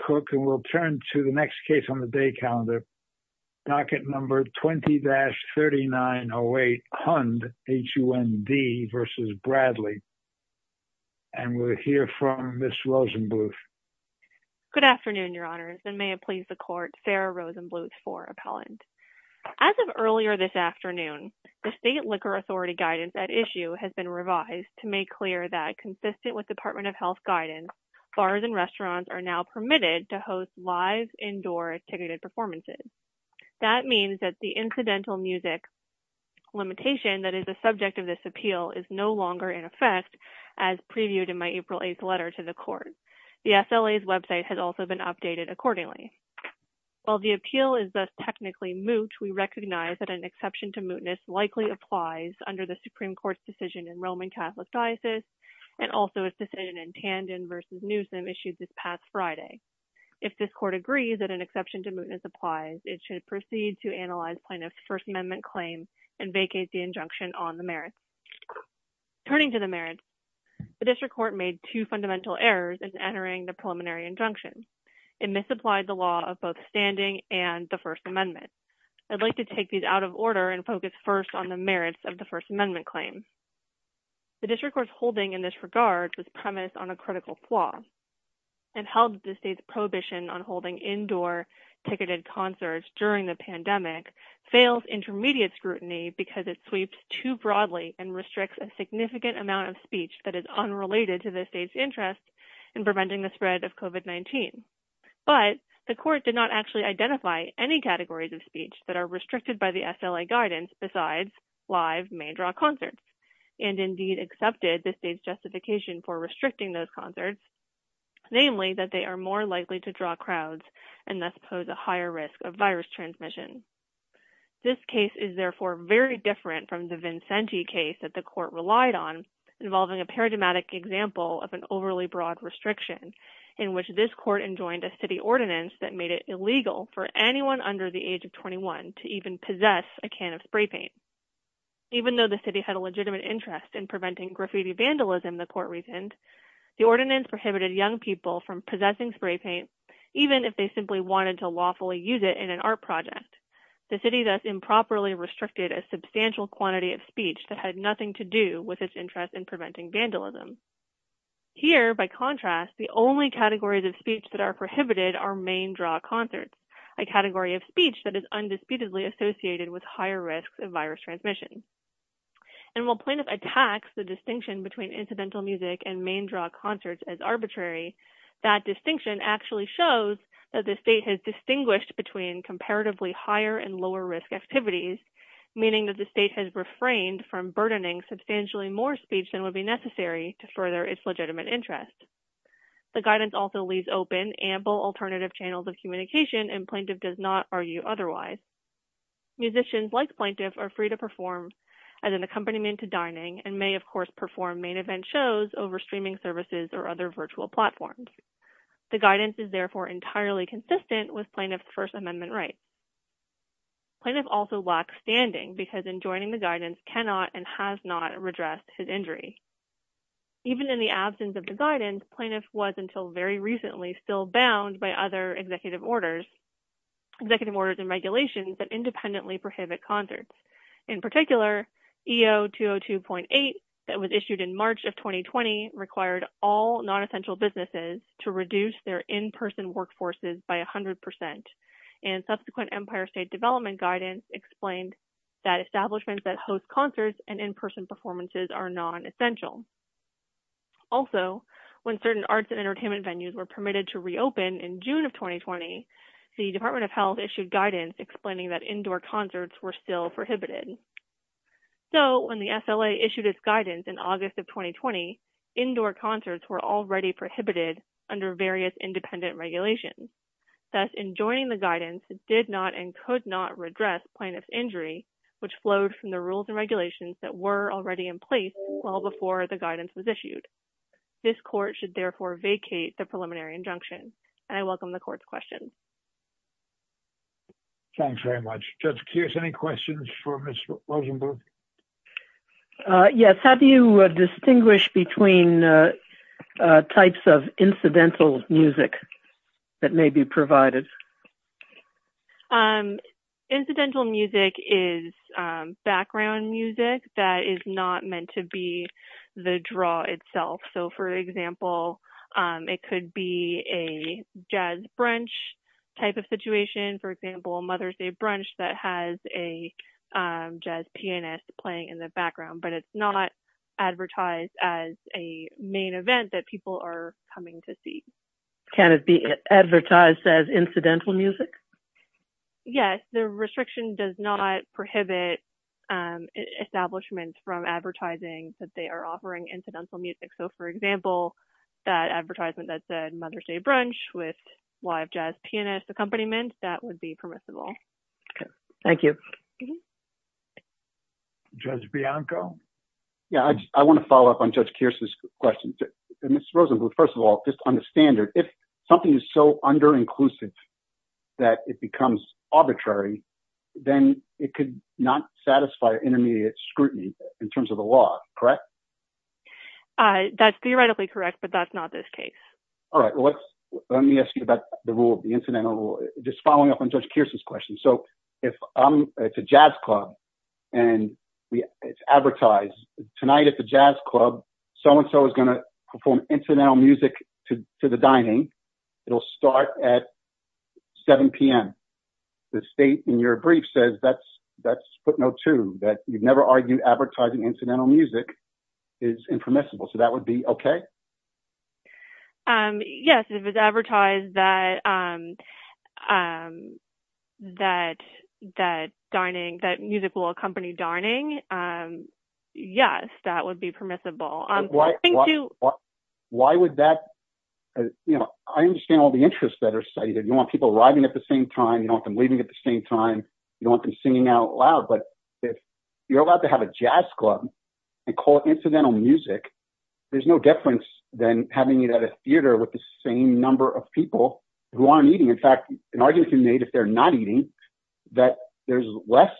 Cook. And we'll turn to the next case on the day calendar. Docket number 20-3908, Hund versus Bradley. And we'll hear from Ms. Rosenbluth. Good afternoon, Your Honors, and may it please the court, Farrah Rosenbluth for appellant. As of earlier this afternoon, the State Liquor Authority guidance at issue has been revised to make clear that consistent with Department of Health guidance, bars and restaurants are now permitted to host live indoor ticketed performances. That means that the incidental music limitation that is the subject of this appeal is no longer in effect as previewed in my April 8th letter to the court. The SLA's website has also been updated accordingly. While the appeal is thus technically moot, we recognize that an exception to mootness likely applies under the Supreme Court's decision in Roman Catholic Diocese and also its decision in Tandon v. Newsom issued this past Friday. If this court agrees that an exception to mootness applies, it should proceed to analyze plaintiff's First Amendment claim and vacate the injunction on the merits. Turning to the merits, the district court made two fundamental errors in entering the preliminary injunction. It misapplied the law of both standing and the First Amendment. I'd like to take these out of order and focus first on the merits of First Amendment claim. The district court's holding in this regard was premised on a critical flaw and held the state's prohibition on holding indoor ticketed concerts during the pandemic fails intermediate scrutiny because it sweeps too broadly and restricts a significant amount of speech that is unrelated to the state's interest in preventing the spread of COVID-19. But the court did not actually identify any categories of speech that are restricted by SLA guidance besides live main draw concerts and indeed accepted the state's justification for restricting those concerts, namely that they are more likely to draw crowds and thus pose a higher risk of virus transmission. This case is therefore very different from the Vincenti case that the court relied on involving a paradigmatic example of an overly broad restriction in which this court joined a city ordinance that made it illegal for anyone under the age of 21 to even possess a can of spray paint. Even though the city had a legitimate interest in preventing graffiti vandalism the court reasoned, the ordinance prohibited young people from possessing spray paint even if they simply wanted to lawfully use it in an art project. The city thus improperly restricted a substantial quantity of speech that had nothing to do with its interest in preventing prohibited are main draw concerts, a category of speech that is undisputedly associated with higher risks of virus transmission. And while plaintiff attacks the distinction between incidental music and main draw concerts as arbitrary, that distinction actually shows that the state has distinguished between comparatively higher and lower risk activities, meaning that the state has refrained from burdening substantially more speech than would necessary to further its legitimate interest. The guidance also leaves open ample alternative channels of communication and plaintiff does not argue otherwise. Musicians like plaintiff are free to perform as an accompaniment to dining and may of course perform main event shows over streaming services or other virtual platforms. The guidance is therefore entirely consistent with plaintiff's first amendment rights. Plaintiff also lacks standing because in joining the guidance cannot and has not redressed his injury. Even in the absence of the guidance, plaintiff was until very recently still bound by other executive orders, executive orders and regulations that independently prohibit concerts. In particular, EO 202.8 that was issued in March of 2020 required all non-essential businesses to reduce their in-person workforces by 100 percent and subsequent Empire State Development guidance explained that establishments that host concerts and in-person performances are non-essential. Also, when certain arts and entertainment venues were permitted to reopen in June of 2020, the Department of Health issued guidance explaining that indoor concerts were still prohibited. So, when the SLA issued its guidance in August of 2020, indoor concerts were already prohibited under various independent regulations. Thus, in joining the guidance, did not and could not redress plaintiff's injury which flowed from the rules and regulations that were already in place well before the guidance was issued. This court should therefore vacate the preliminary injunction and I welcome the court's questions. Thanks very much. Judge types of incidental music that may be provided. Incidental music is background music that is not meant to be the draw itself. So, for example, it could be a jazz brunch type of situation. For example, Mother's Day brunch that has a jazz pianist playing in the background but it's not advertised as a main event that people are coming to see. Can it be advertised as incidental music? Yes, the restriction does not prohibit establishments from advertising that they are offering incidental music. So, for example, that advertisement that said Mother's Day brunch with live jazz pianist accompaniment, that would be permissible. Okay, thank you. Mm-hmm. Judge Bianco? Yeah, I want to follow up on Judge Kearse's question. Ms. Rosenbluth, first of all, just on the standard, if something is so under inclusive that it becomes arbitrary, then it could not satisfy intermediate scrutiny in terms of the law, correct? That's theoretically correct but that's not this case. All right, let me ask you about the rule of the incidental just following up on Judge Kearse's question. So, if it's a jazz club and it's advertised, tonight at the jazz club, so-and-so is going to perform incidental music to the dining. It'll start at 7 p.m. The state in your brief says that's footnote two, that you've never argued advertising incidental music is impermissible. So, that would be okay? Yes, if it's advertised that dining, that music will accompany dining, yes, that would be permissible. Why would that, you know, I understand all the interests that are cited. You want people arriving at the same time, you want them leaving at the same time, you want them singing out loud, but if you're allowed to have a jazz club and call it incidental music, there's no difference than having it at a theater with the same number of people who aren't eating. In fact, an argument can be made if they're not eating that there's less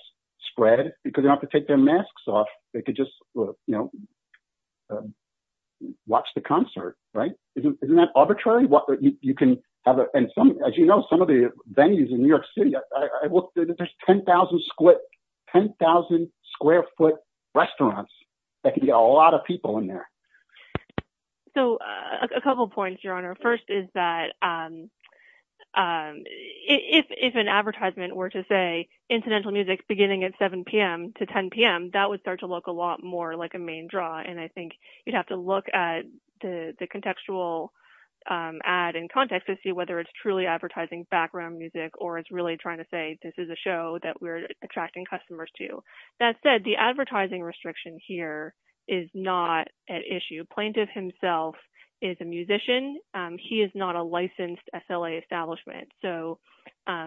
spread because they don't have to take their masks off. They could just, you know, watch the concert, right? Isn't that arbitrary? You can have, and some, as you know, some of the venues in New York City, there's 10,000 square foot restaurants that can get a lot of people in there. So, a couple points, Your Honor. First is that if an advertisement were to say incidental music beginning at 7 p.m. to 10 p.m., that would start to look a lot more like a main draw, and I think you'd have to look at the contextual ad in context to see whether it's truly advertising background music or it's really trying to say this is a show that we're attracting customers to. That said, the advertising restriction here is not at issue. Plaintiff himself is a musician. He is not a licensed SLA establishment, so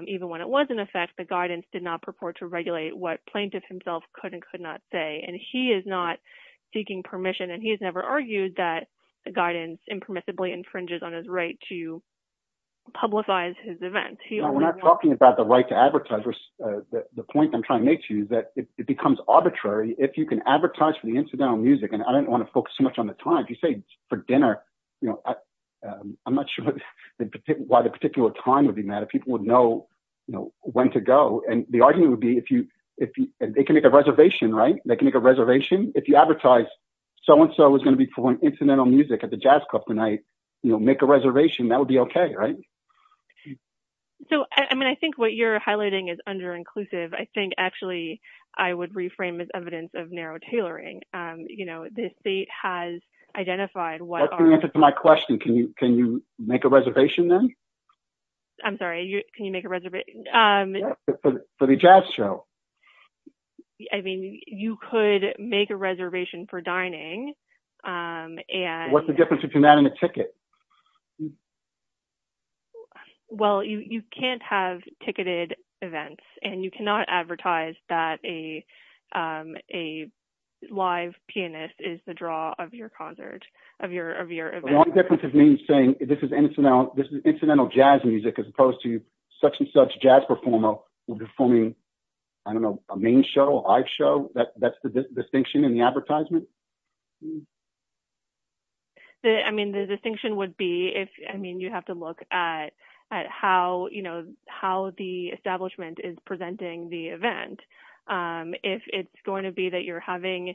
even when it was in effect, the guidance did not purport to regulate what plaintiff himself could and could not say, and he is not seeking permission, and he has never argued that the guidance impermissibly infringes on his right to publicize his event. No, we're not talking about the right to advertise. The point I'm trying to make to you is that it becomes arbitrary if you can advertise for the incidental music, and I don't want to focus so much on the time. If you say for dinner, I'm not sure why the particular time would be a matter. People would know when to go, and the argument would be if they can make a reservation, right? They can make a reservation. If you advertise so-and-so is going to be playing incidental music at the jazz club tonight, make a reservation. That would be okay, right? So, I mean, I think what you're highlighting is underinclusive. I think I would reframe it as evidence of narrow tailoring. You know, the state has identified- That's the answer to my question. Can you make a reservation then? I'm sorry. Can you make a reservation? For the jazz show. I mean, you could make a reservation for dining, and- Well, you can't have ticketed events, and you cannot advertise that a live pianist is the draw of your concert, of your event. The only difference is me saying this is incidental jazz music as opposed to such-and-such jazz performer performing, I don't know, a main show, a live show. That's the distinction in the advertisement? I mean, the distinction would be if-I mean, you have to look at how the establishment is presenting the event. If it's going to be that you're having-if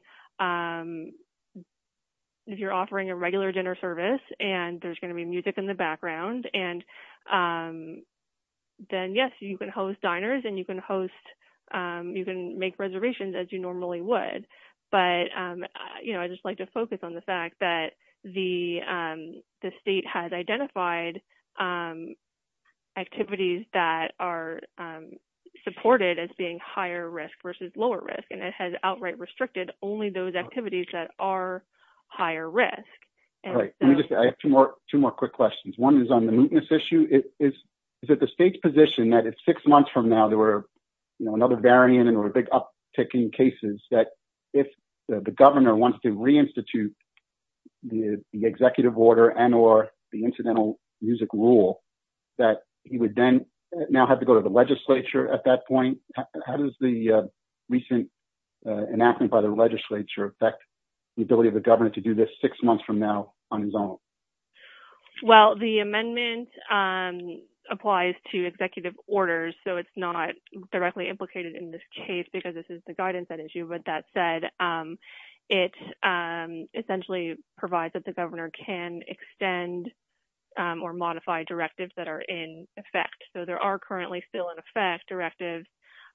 you're offering a regular dinner service, and there's going to be music in the background, and then, yes, you can host diners, and you can host-you can make reservations as you normally would. But, you know, I'd just like to focus on the fact that the state has identified activities that are supported as being higher risk versus lower risk, and it has outright restricted only those activities that are higher risk. All right. Let me just-I have two more quick questions. One is on the mootness issue. Is it the state's position that it's six months from now, there were, you know, another variant, and there were big uptick in cases, that if the governor wants to reinstitute the executive order and or the incidental music rule, that he would then now have to go to the legislature at that point? How does the recent enactment by the legislature affect the ability of the governor to do this six months from now on his own? Well, the amendment applies to executive orders, so it's not directly implicated in this case because this is the guidance at issue, but that said, it essentially provides that the governor can extend or modify directives that are in effect. So, there are currently still in effect directives,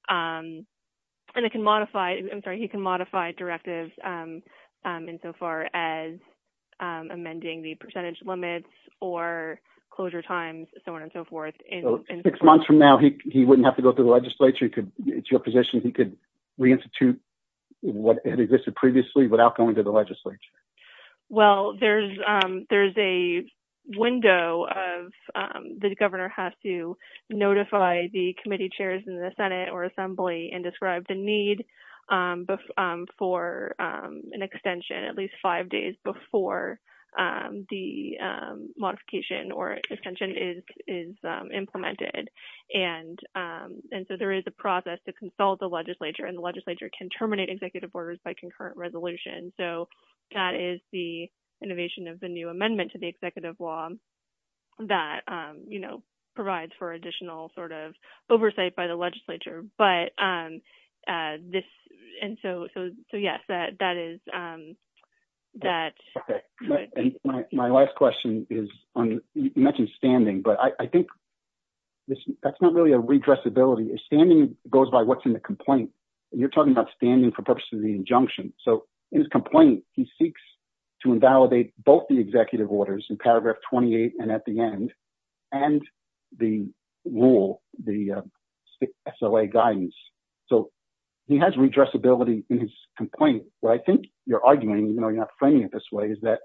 and it can modify-I'm sorry, he can modify directives insofar as amending the percentage limits or closure times, so on and so forth. So, six months from now, he wouldn't have to go to the legislature? It's your position he could reinstitute what had existed previously without going to the legislature? Well, there's a window of the governor has to notify the committee chairs in the senate or assembly and describe the need for an extension at least five days before the modification or extension is implemented, and so there is a process to consult the legislature, and the innovation of the new amendment to the executive law that provides for additional oversight by the legislature. So, yes, that is- My last question is, you mentioned standing, but I think that's not really a redressability. Standing goes by what's in the complaint. You're talking about standing for purposes of the injunction. So, in his complaint, he seeks to invalidate both the executive orders in paragraph 28 and at the end, and the rule, the SLA guidance. So, he has redressability in his complaint. What I think you're arguing, even though you're not framing it this way, is that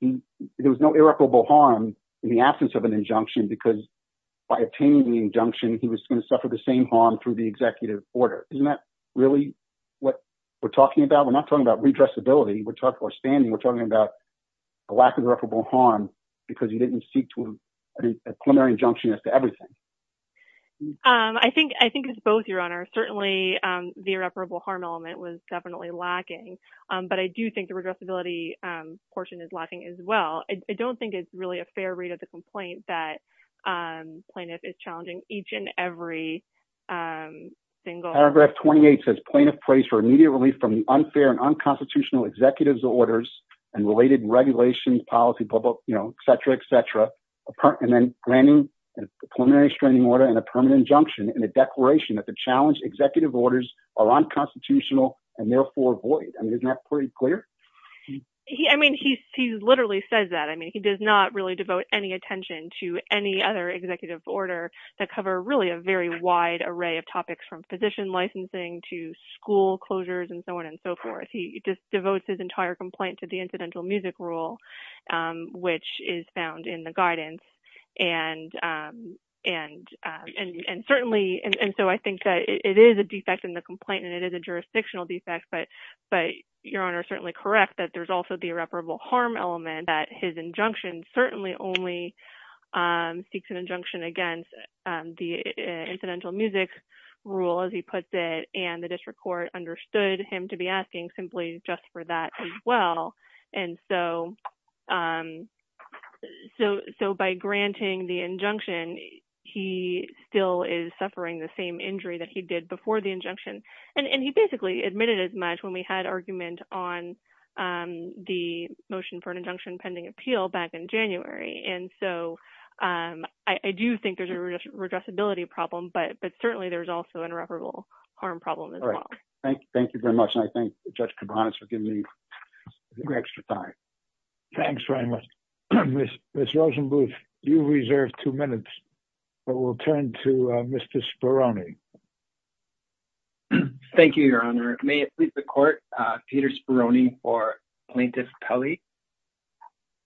there was no irreparable harm in the absence of an injunction because by obtaining the injunction, he was going to suffer the same harm through the executive order. Isn't that what we're talking about? We're not talking about redressability. We're talking about the lack of irreparable harm because he didn't seek a preliminary injunction as to everything. I think it's both, Your Honor. Certainly, the irreparable harm element was definitely lacking, but I do think the regressability portion is lacking as well. I don't think it's really a fair read of the complaint that plaintiff is challenging each and every single- Paragraph 28 says, plaintiff prays for immediate relief from the unfair and unconstitutional executive's orders and related regulations, policy, etc., etc., and then granting a preliminary straining order and a permanent injunction in a declaration that the challenged executive orders are unconstitutional and therefore void. Isn't that pretty clear? I mean, he literally says that. He does not really devote any attention to any other executive order that cover really a very wide array of topics from physician licensing to school closures, and so on and so forth. He just devotes his entire complaint to the incidental music rule, which is found in the guidance. I think that it is a defect in the complaint, and it is a jurisdictional defect, but Your Honor is certainly correct that there's also the irreparable harm element that his injunction certainly only seeks an injunction against the incidental music rule, as he puts it, and the district court understood him to be asking simply just for that as well. By granting the injunction, he still is suffering the same injury that he did before the injunction pending appeal back in January, and so I do think there's a redressability problem, but certainly there's also an irreparable harm problem as well. All right. Thank you very much, and I thank Judge Cabanis for giving me some extra time. Thanks very much. Ms. Rosenbluth, you reserved two minutes, but we'll turn to Mr. Speroni. Thank you, Your Honor. May it please the court, Peter Speroni for plaintiff Pelley.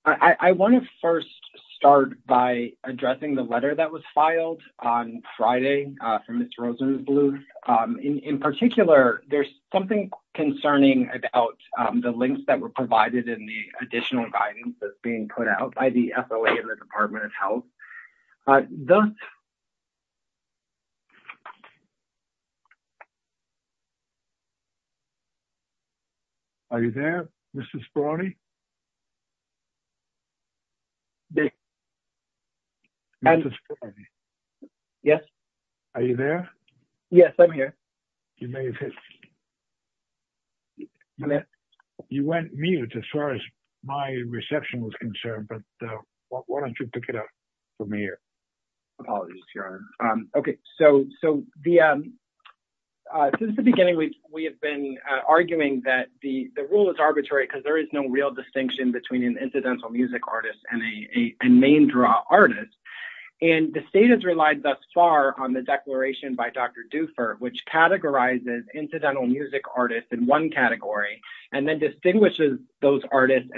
I want to first start by addressing the letter that was filed on Friday from Ms. Rosenbluth. In particular, there's something concerning about the links that were provided in the additional guidance that's being put out by the FOA and the Department of Health. I don't... Are you there, Mr. Speroni? Yes. Yes. Are you there? Yes, I'm here. You may have hit... You went mute as far as my reception was concerned, but why don't you pick it up? Apologies, Your Honor. Okay. Since the beginning, we have been arguing that the rule is arbitrary because there is no real distinction between an incidental music artist and a main draw artist. The state has relied thus far on the declaration by Dr. Dufour, which categorizes incidental music artists in one category and then distinguishes those artists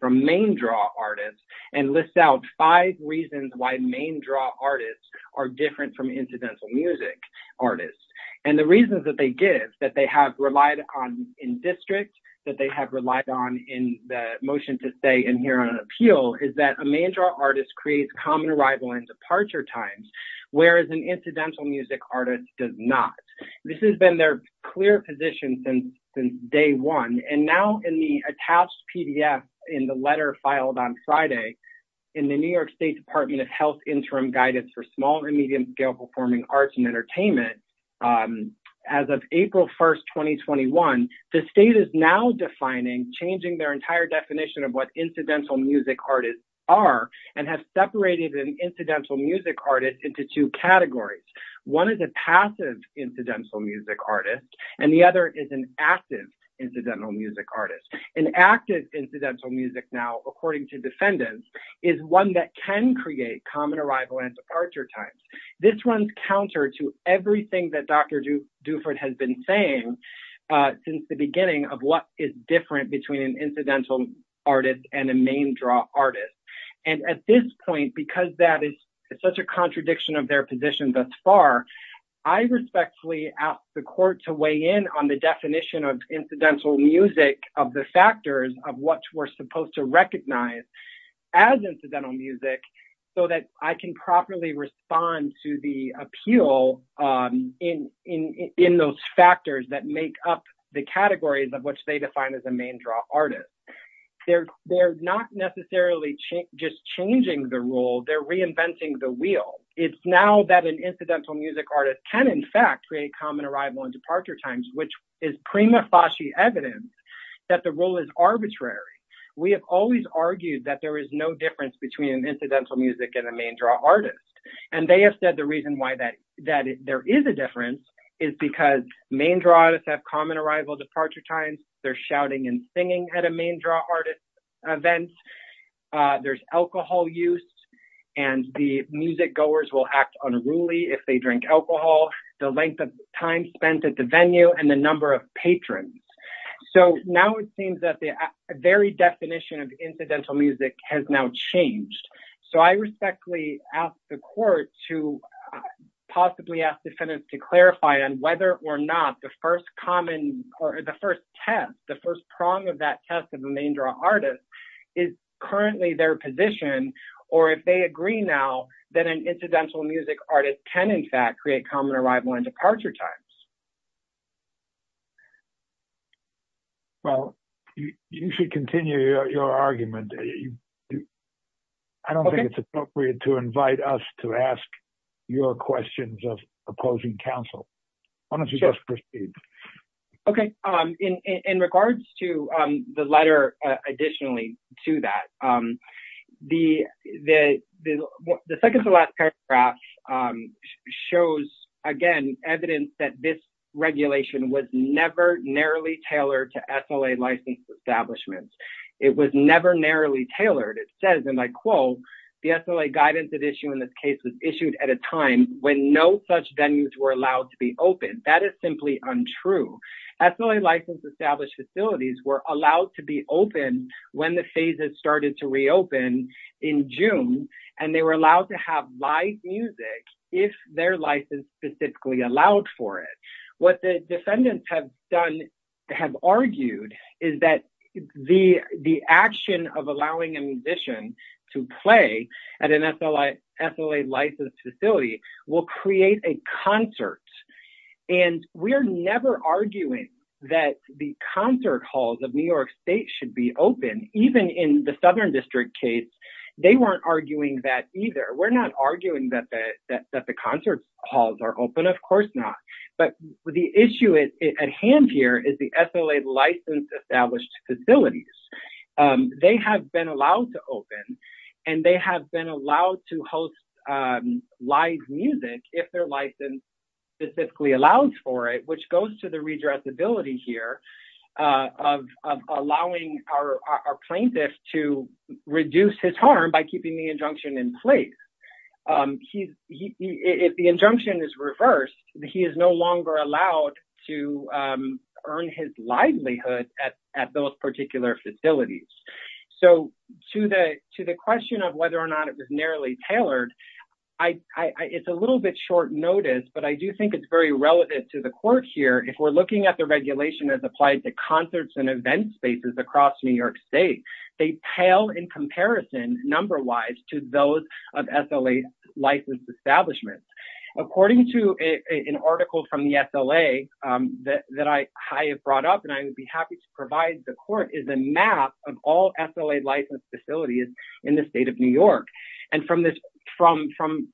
from main draw artists and lists out five reasons why main draw artists are different from incidental music artists. And the reasons that they give, that they have relied on in district, that they have relied on in the motion to stay in here on appeal, is that a main draw artist creates common arrival and departure times, whereas an incidental music artist does not. This has been their clear position since day one. And now in the attached PDF in the letter filed on Friday, in the New York State Department of Health Interim Guidance for Small and Medium-Scale Performing Arts and Entertainment, as of April 1st, 2021, the state is now defining, changing their entire definition of what incidental music artists are and has separated an incidental music artist into two categories. One is a passive incidental music artist, and the other is an active incidental music artist. An active incidental music, now according to defendants, is one that can create common arrival and departure times. This runs counter to everything that Dr. Dufour has been saying since the beginning of what is different between an incidental artist and a main draw artist. And at this point, because that is such a way in on the definition of incidental music, of the factors of what we're supposed to recognize as incidental music, so that I can properly respond to the appeal in those factors that make up the categories of which they define as a main draw artist. They're not necessarily just changing the rule, they're reinventing the wheel. It's now that an incidental music artist can in fact create common arrival and departure times, which is prima facie evidence that the rule is arbitrary. We have always argued that there is no difference between an incidental music and a main draw artist, and they have said the reason why that there is a difference is because main draw artists have common arrival departure times, they're shouting and singing at a main draw event. There's alcohol use, and the music goers will act unruly if they drink alcohol, the length of time spent at the venue, and the number of patrons. So now it seems that the very definition of incidental music has now changed. So I respectfully ask the court to possibly ask defendants to clarify on whether or not the first common, or the first test, the first prong of that test of the main draw artist is currently their position, or if they agree now that an incidental music artist can in fact create common arrival and departure times. Well, you should continue your argument. I don't think it's appropriate to invite us to ask your questions of opposing counsel. Why don't you just proceed? Okay, in regards to the letter additionally to that, the second to last paragraph shows, again, evidence that this regulation was never narrowly tailored to SLA licensed establishments. It was never narrowly issued at a time when no such venues were allowed to be open. That is simply untrue. SLA licensed established facilities were allowed to be open when the phases started to reopen in June, and they were allowed to have live music if their license specifically allowed for it. What the defendants have done, have argued, is that the action of allowing a musician to play at an SLA licensed facility will create a concert. We're never arguing that the concert halls of New York State should be open. Even in the Southern District case, they weren't arguing that either. We're not arguing that the concert halls are open. Of course not. But the issue at hand here is the allowed to host live music if their license specifically allows for it, which goes to the redressability here of allowing our plaintiff to reduce his harm by keeping the injunction in place. If the injunction is reversed, he is no longer allowed to earn his livelihood at those facilities. To the question of whether or not it was narrowly tailored, it's a little bit short notice, but I do think it's very relevant to the court here. If we're looking at the regulation as applied to concerts and event spaces across New York State, they pale in comparison, number-wise, to those of SLA licensed establishments. According to an article from the SLA that I have brought up, and I would be happy to provide the court, is a map of all SLA licensed facilities in the state of New York. From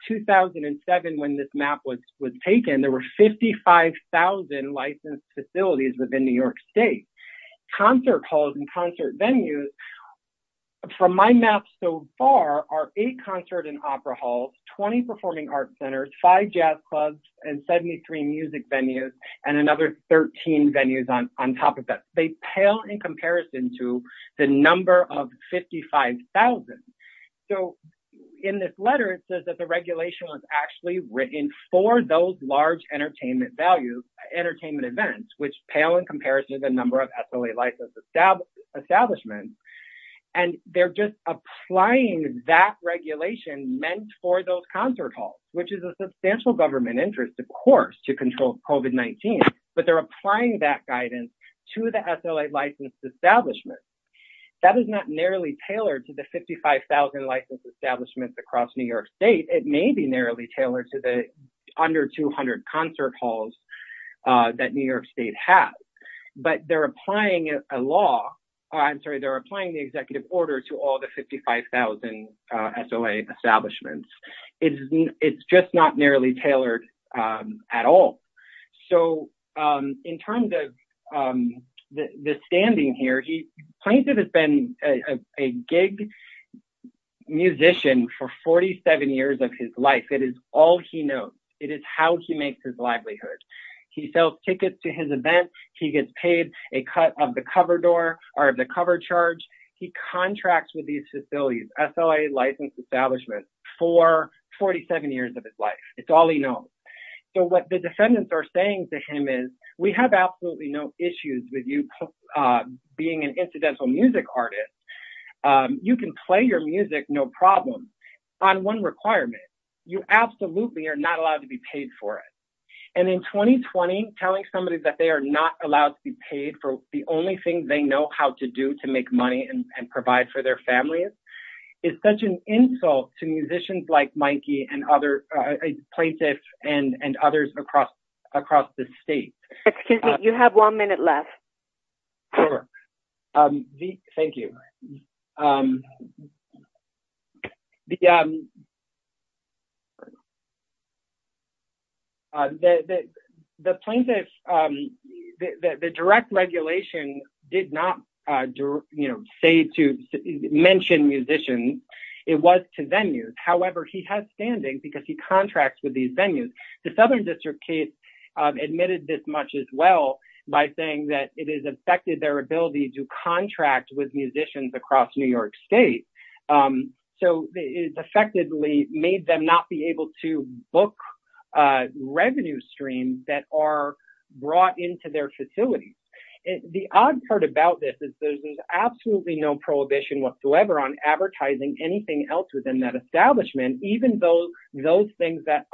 2007, when this map was taken, there were 55,000 licensed facilities within New York State. Concert halls and concert venues, from my map so far, are eight concert and opera halls, 20 performing arts centers, five jazz clubs, and 73 music venues, and another 13 venues on top of that. They pale in comparison to the number of 55,000. In this letter, it says that the regulation was actually written for those large entertainment events, which pale in comparison to the number of SLA licensed establishments. They're just applying that regulation meant for those concert halls, which is a substantial government interest, of course, to control COVID-19, but they're applying that guidance to the SLA licensed establishments. That is not narrowly tailored to the 55,000 licensed establishments across New York State. It may be narrowly tailored to the under 200 concert halls that New York State has, but they're applying a law, I'm sorry, the executive order to all the 55,000 SLA establishments. It's just not narrowly tailored at all. In terms of the standing here, Plaintiff has been a gig musician for 47 years of his life. It is all he knows. It is how he makes his livelihood. He sells tickets to his events. He gets paid a cut of the cover charge. He contracts with these facilities, SLA licensed establishments, for 47 years of his life. It's all he knows. What the defendants are saying to him is, we have absolutely no issues with you being an incidental music artist. You can play your music no problem on one requirement. You absolutely are not allowed to be paid for it. In 2020, telling somebody that they are not allowed to be paid for the only thing they know how to do to make money and provide for their families is such an insult to musicians like Plaintiff and others across the state. You have one minute left. Sure. Thank you. The direct regulation did not mention musicians. It was to venues. However, he has standing because he contracts with these venues. The Southern District case admitted this much as well by saying that it has affected their ability to contract with musicians across New York State. It has effectively made them not be able to book revenue streams that are brought into their facilities. The odd part about this is there is absolutely no prohibition whatsoever on advertising anything else within that establishment, even though those things that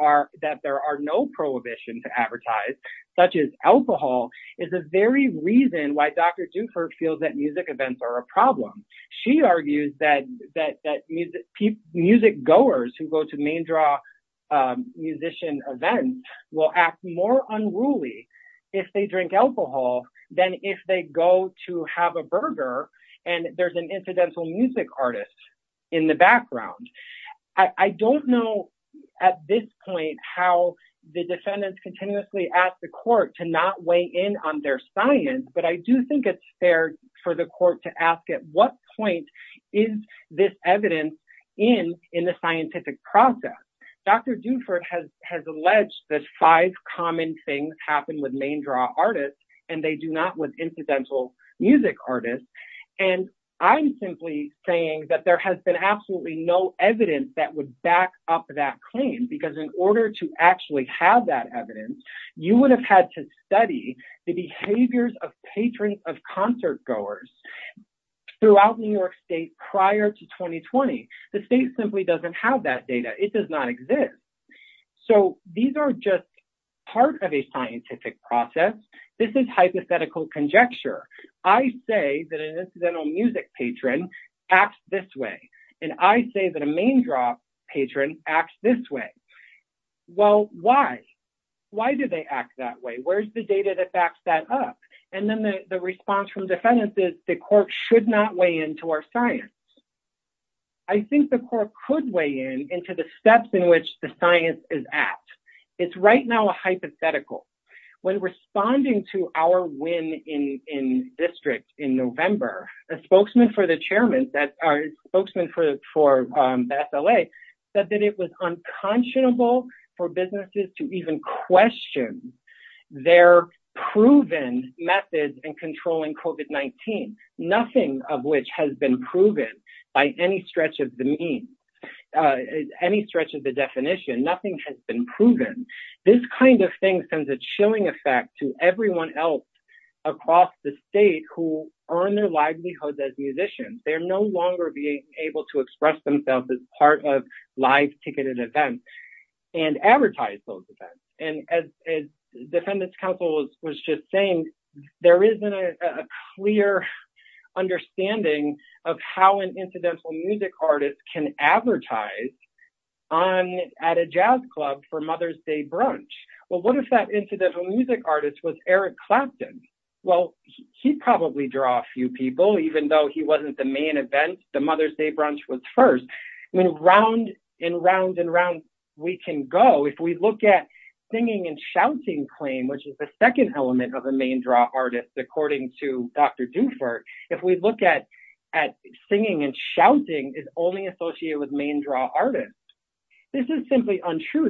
there are no prohibitions to advertise, such as alcohol, is the very reason why Dr. Dufour feels that music events are a problem. She argues that music goers who go to main draw musician events will act more unruly if they drink alcohol than if they go to have a at this point how the defendants continuously ask the court to not weigh in on their science, but I do think it's fair for the court to ask at what point is this evidence in the scientific process. Dr. Dufour has alleged that five common things happen with main draw artists, and they do not with incidental music artists. I'm simply saying that there has been absolutely no claim because in order to actually have that evidence, you would have had to study the behaviors of patrons of concert goers throughout New York State prior to 2020. The state simply doesn't have that data. It does not exist. So these are just part of a scientific process. This is hypothetical conjecture. I say that an incidental music patron acts this way, and I say that a main draw patron acts this way. Well, why? Why do they act that way? Where's the data that backs that up? And then the response from defendants is the court should not weigh into our science. I think the court could weigh in into the steps in which the science is at. It's right now a hypothetical. When responding to our win in district in November, a spokesman for our spokesman for SLA said that it was unconscionable for businesses to even question their proven methods in controlling COVID-19, nothing of which has been proven by any stretch of the definition. Nothing has been proven. This kind of thing sends a chilling effect to everyone else across the state who earn their livelihoods as musicians. They're no longer being able to express themselves as part of live ticketed events and advertise those events. And as defendant's counsel was just saying, there isn't a clear understanding of how an incidental music artist can advertise at a jazz club for Mother's Day brunch. Well, what if that incidental music artist was Eric Clapton? Well, he'd probably draw a few people, even though he wasn't the main event. The Mother's Day brunch was first. I mean, round and round and round we can go. If we look at singing and shouting claim, which is the second element of a main draw artist, according to Dr. Dufour, if we look at singing and shouting is only associated with main draw artists. This is simply untrue.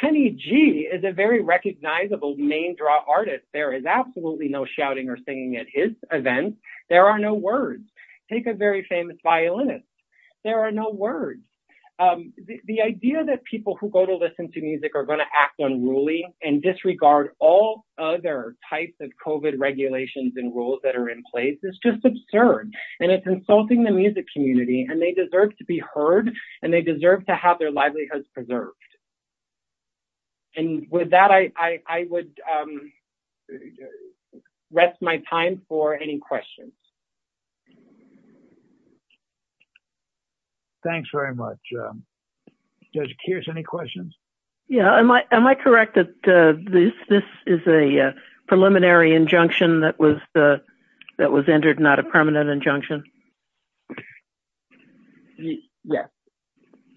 Kenny G is a very recognizable main draw artist. There is absolutely no shouting or singing at his events. There are no words. Take a very famous violinist. There are no words. The idea that people who go to listen to music are going to act unruly and disregard all other types of COVID regulations and rules that are in place is just absurd. It's insulting the music community. They deserve to be heard. They deserve to have their livelihoods preserved. With that, I would rest my time for any questions. Thanks very much. Judge Kears, any questions? Am I correct that this is a preliminary injunction that was entered, not a permanent injunction? Yes,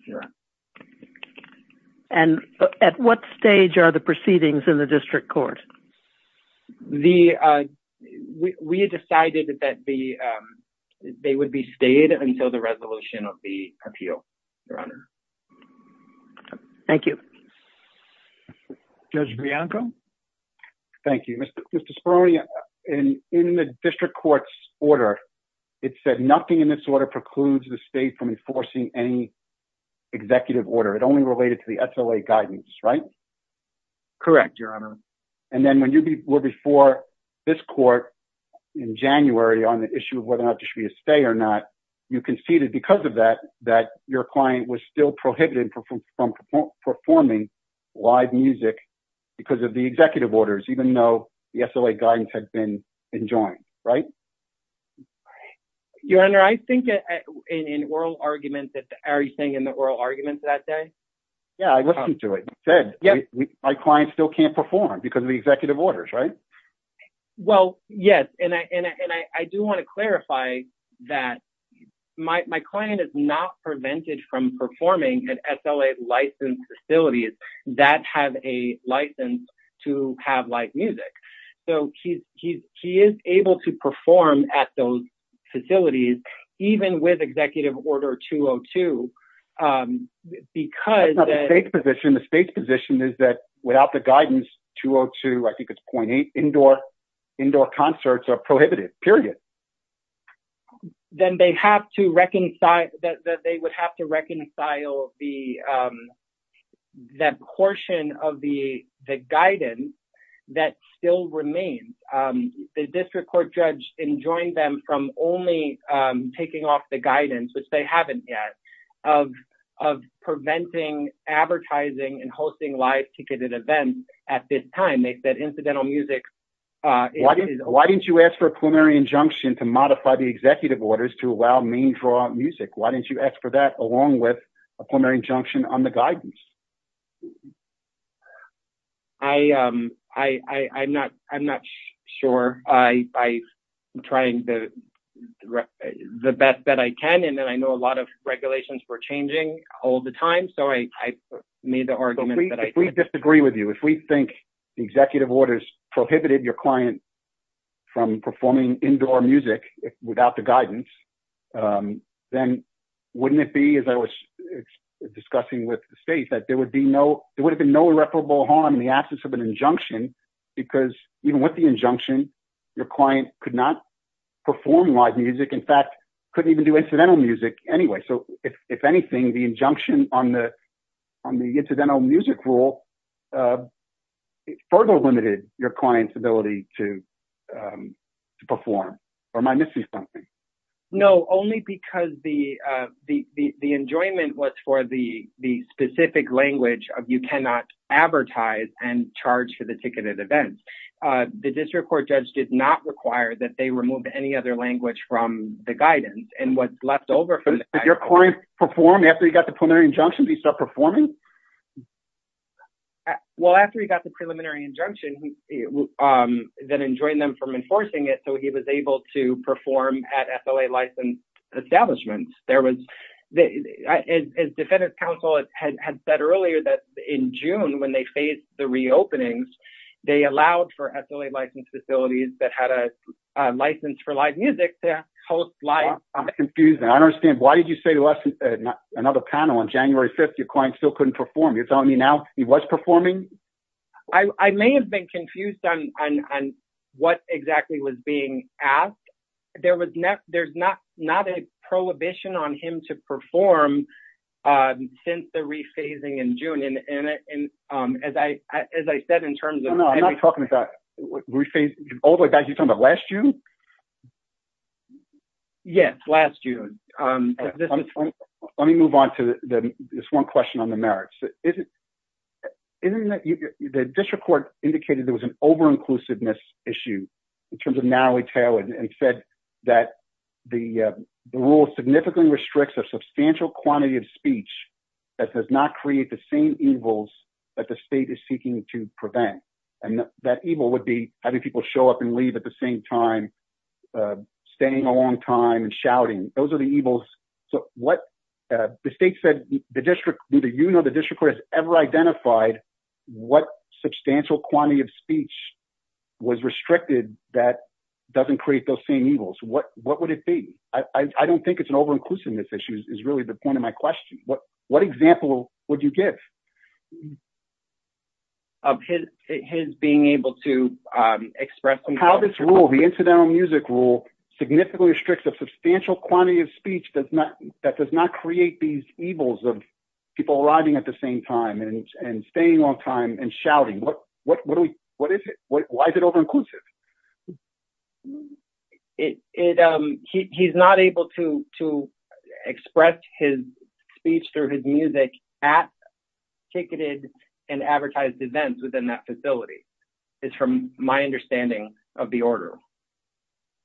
you're right. At what stage are the proceedings in the district court? We had decided that they would be stayed until the resolution of the appeal, Your Honor. Thank you. Judge Bianco? Thank you. Mr. Speroni, in the district court's order, it said nothing in this order precludes the state from enforcing any executive order. It only related to the SLA guidance, right? Correct, Your Honor. Then when you were before this court in January on the issue of whether or not it should be a stay or not, you conceded because of that that your client was still performing live music because of the executive orders, even though the SLA guidance had been enjoined, right? Your Honor, I think in oral arguments, are you saying in the oral arguments that day? Yeah, I listened to it. It said my client still can't perform because of the executive orders, right? Well, yes. I do want to clarify that my client is not prevented from performing at SLA-licensed facilities that have a license to have live music. So, he is able to perform at those facilities even with executive order 202 because- That's not the state's position. The state's position is that without the guidance, 202, I think it's 0.8, indoor concerts are not allowed. They would have to reconcile that portion of the guidance that still remains. The district court judge enjoined them from only taking off the guidance, which they haven't yet, of preventing advertising and hosting live ticketed events at this time. They said incidental music- Why didn't you ask for a preliminary injunction to modify the executive orders to allow main draw music? Why didn't you ask for that along with a preliminary injunction on the guidance? I'm not sure. I'm trying the best that I can, and then I know a lot of regulations were changing all the time. So, I made the argument that I think- If we disagree with you, if we think the executive orders prohibited your client from performing indoor music without the guidance, then wouldn't it be, as I was discussing with the state, that there would have been no irreparable harm in the absence of an injunction because even with the injunction, your client could not perform live music. In fact, couldn't even do incidental music anyway. So, if anything, the injunction on the incidental music rule further limited your client's ability to perform. Or am I missing something? No. Only because the enjoyment was for the specific language of you cannot advertise and charge for the ticketed events. The district court judge did not require that they remove any other language from the guidance. And what's left over from the guidance- Did your client perform after he got the preliminary injunction? Did he start performing? Well, after he got the preliminary injunction, then enjoined them enforcing it so he was able to perform at SLA-licensed establishments. As defendant's counsel had said earlier that in June when they faced the reopenings, they allowed for SLA-licensed facilities that had a license for live music to host live- I'm confused now. I don't understand. Why did you say to another panel on January 5th your client still couldn't perform? You're telling being asked? There's not a prohibition on him to perform since the rephasing in June. And as I said in terms of- No, no. I'm not talking about rephasing. All the way back, you're talking about last June? Yes, last June. Let me move on to this one question on the merits. Isn't that- The district court indicated there was an over-inclusiveness issue in terms of narrowly tailored and said that the rule significantly restricts a substantial quantity of speech that does not create the same evils that the state is seeking to prevent. And that evil would be having people show up and leave at the same time, staying a long time and shouting. Those ever identified what substantial quantity of speech was restricted that doesn't create those same evils, what would it be? I don't think it's an over-inclusiveness issue is really the point of my question. What example would you give? His being able to express- How this rule, the incidental music rule, significantly restricts a substantial quantity of speech that does not create these evils of people arriving at the same time and staying a long time and shouting. Why is it over-inclusive? He's not able to express his speech through his music at ticketed and advertised events within that facility. It's from my understanding of the order.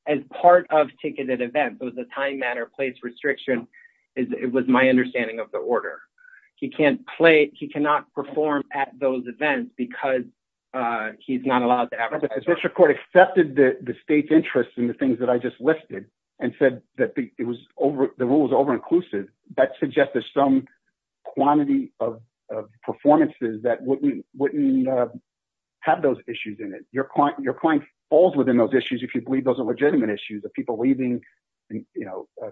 As part of ticketed events, the time, matter, place restriction, it was my understanding of the order. He cannot perform at those events because he's not allowed to advertise. The district court accepted the state's interest in the things that I just listed and said that the rule was over-inclusive. That suggests there's some quantity of performances that wouldn't have those issues in it. Your client falls within those issues if you believe those are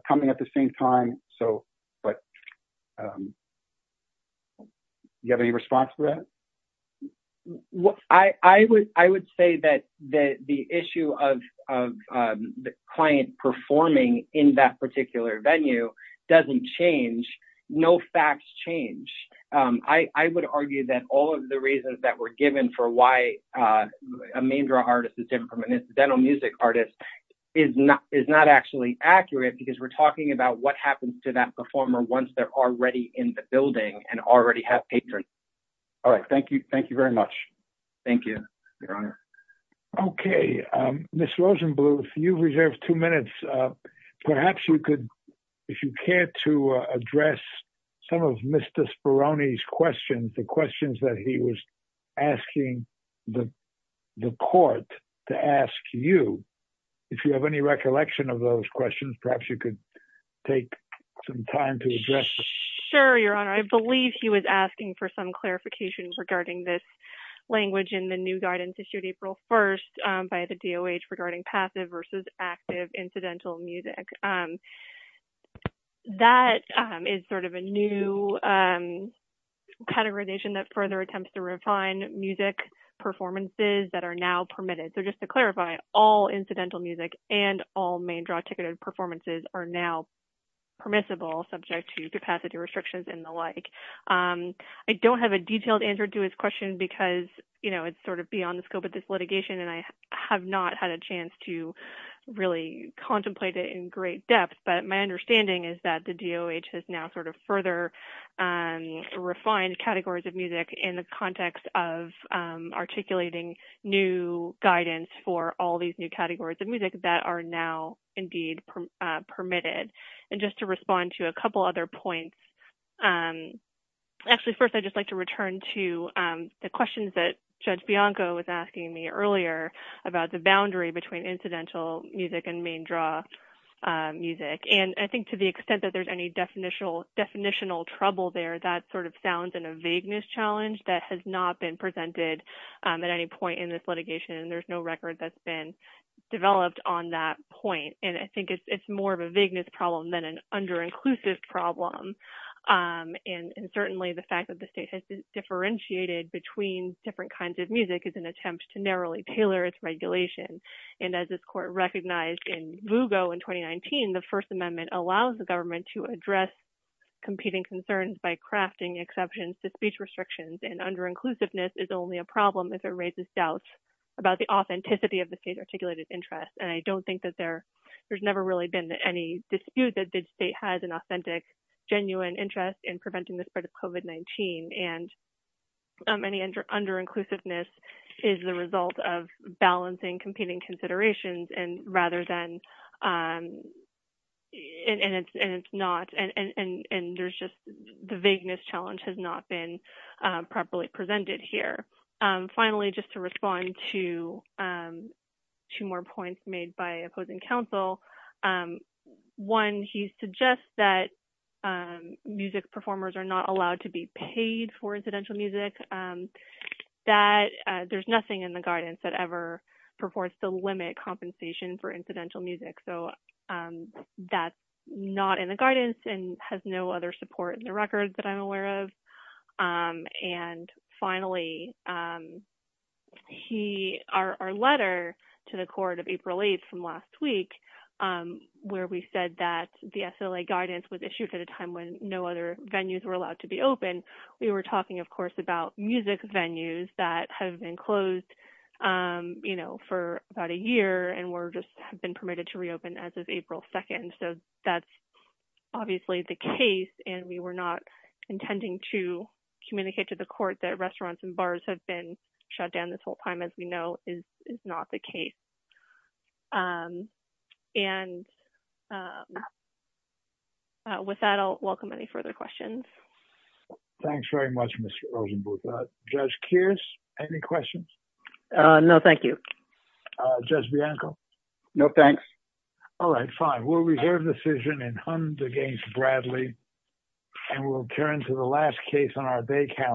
coming at the same time. Do you have any response to that? I would say that the issue of the client performing in that particular venue doesn't change. No facts change. I would argue that all of the reasons that were given for why a main draw artist is different from an incidental music artist is not actually accurate because we're talking about what happens to that performer once they're already in the building and already have patrons. Thank you very much. Ms. Rosenbluth, you've reserved two minutes. If you care to address some of Mr. Speroni's questions that he was asking the court to ask you, if you have any recollection of those questions, perhaps you could take some time to address them. Sure, Your Honor. I believe he was asking for some clarification regarding this language in the new guidance issued April 1st by the DOH regarding passive versus active incidental music. That is a new categorization that further attempts to refine music performances that are now permitted. Just to clarify, all incidental music and all main draw ticketed performances are now permissible subject to capacity restrictions and the like. I don't have a detailed answer to his question because it's beyond the scope of this litigation and I have not had a chance to really contemplate it in great depth, but my understanding is that the DOH has now further refined categories of music in the context of articulating new guidance for all these new categories of music that are now indeed permitted. Just to respond to a couple other points, actually first I'd just like to return to the questions that Judge Bianco was about the boundary between incidental music and main draw music. I think to the extent that there's any definitional trouble there, that sort of sounds in a vagueness challenge that has not been presented at any point in this litigation and there's no record that's been developed on that point. I think it's more of a vagueness problem than an under-inclusive problem. Certainly, the fact that the state has differentiated between different kinds of music is an attempt to narrowly tailor its regulation and as this court recognized in VUGO in 2019, the First Amendment allows the government to address competing concerns by crafting exceptions to speech restrictions and under-inclusiveness is only a problem if it raises doubts about the authenticity of the state's articulated interests and I don't think that there's never really been any dispute that the state has an authentic genuine interest in preventing the spread of COVID-19 and any under-inclusiveness is the result of balancing competing considerations and rather than and it's not and there's just the vagueness challenge has not been properly presented here. Finally, just to respond to two more points made by opposing counsel, one, he suggests that music performers are not allowed to be paid for incidental music, that there's nothing in the guidance that ever performs to limit compensation for incidental music so that's not in the guidance and has no other support in the record that I'm aware of and finally, our letter to the court of April 8th from last week where we said that the SLA guidance was issued at a time when no other venues were allowed to be open, we were talking of course about music venues that have been closed for about a year and were just have been permitted to reopen as of April 2nd so that's obviously the case and we were not intending to communicate to the court that restaurants and bars have been shut down this whole time as we know is not the case and with that, I'll welcome any further questions. Thanks very much, Mr. Rosenbluth. Judge Kears, any questions? No, thank you. Judge Bianco? No, thanks. All right, fine, we'll reserve the decision in Hund against Bradley and we'll turn to the last case on our day count.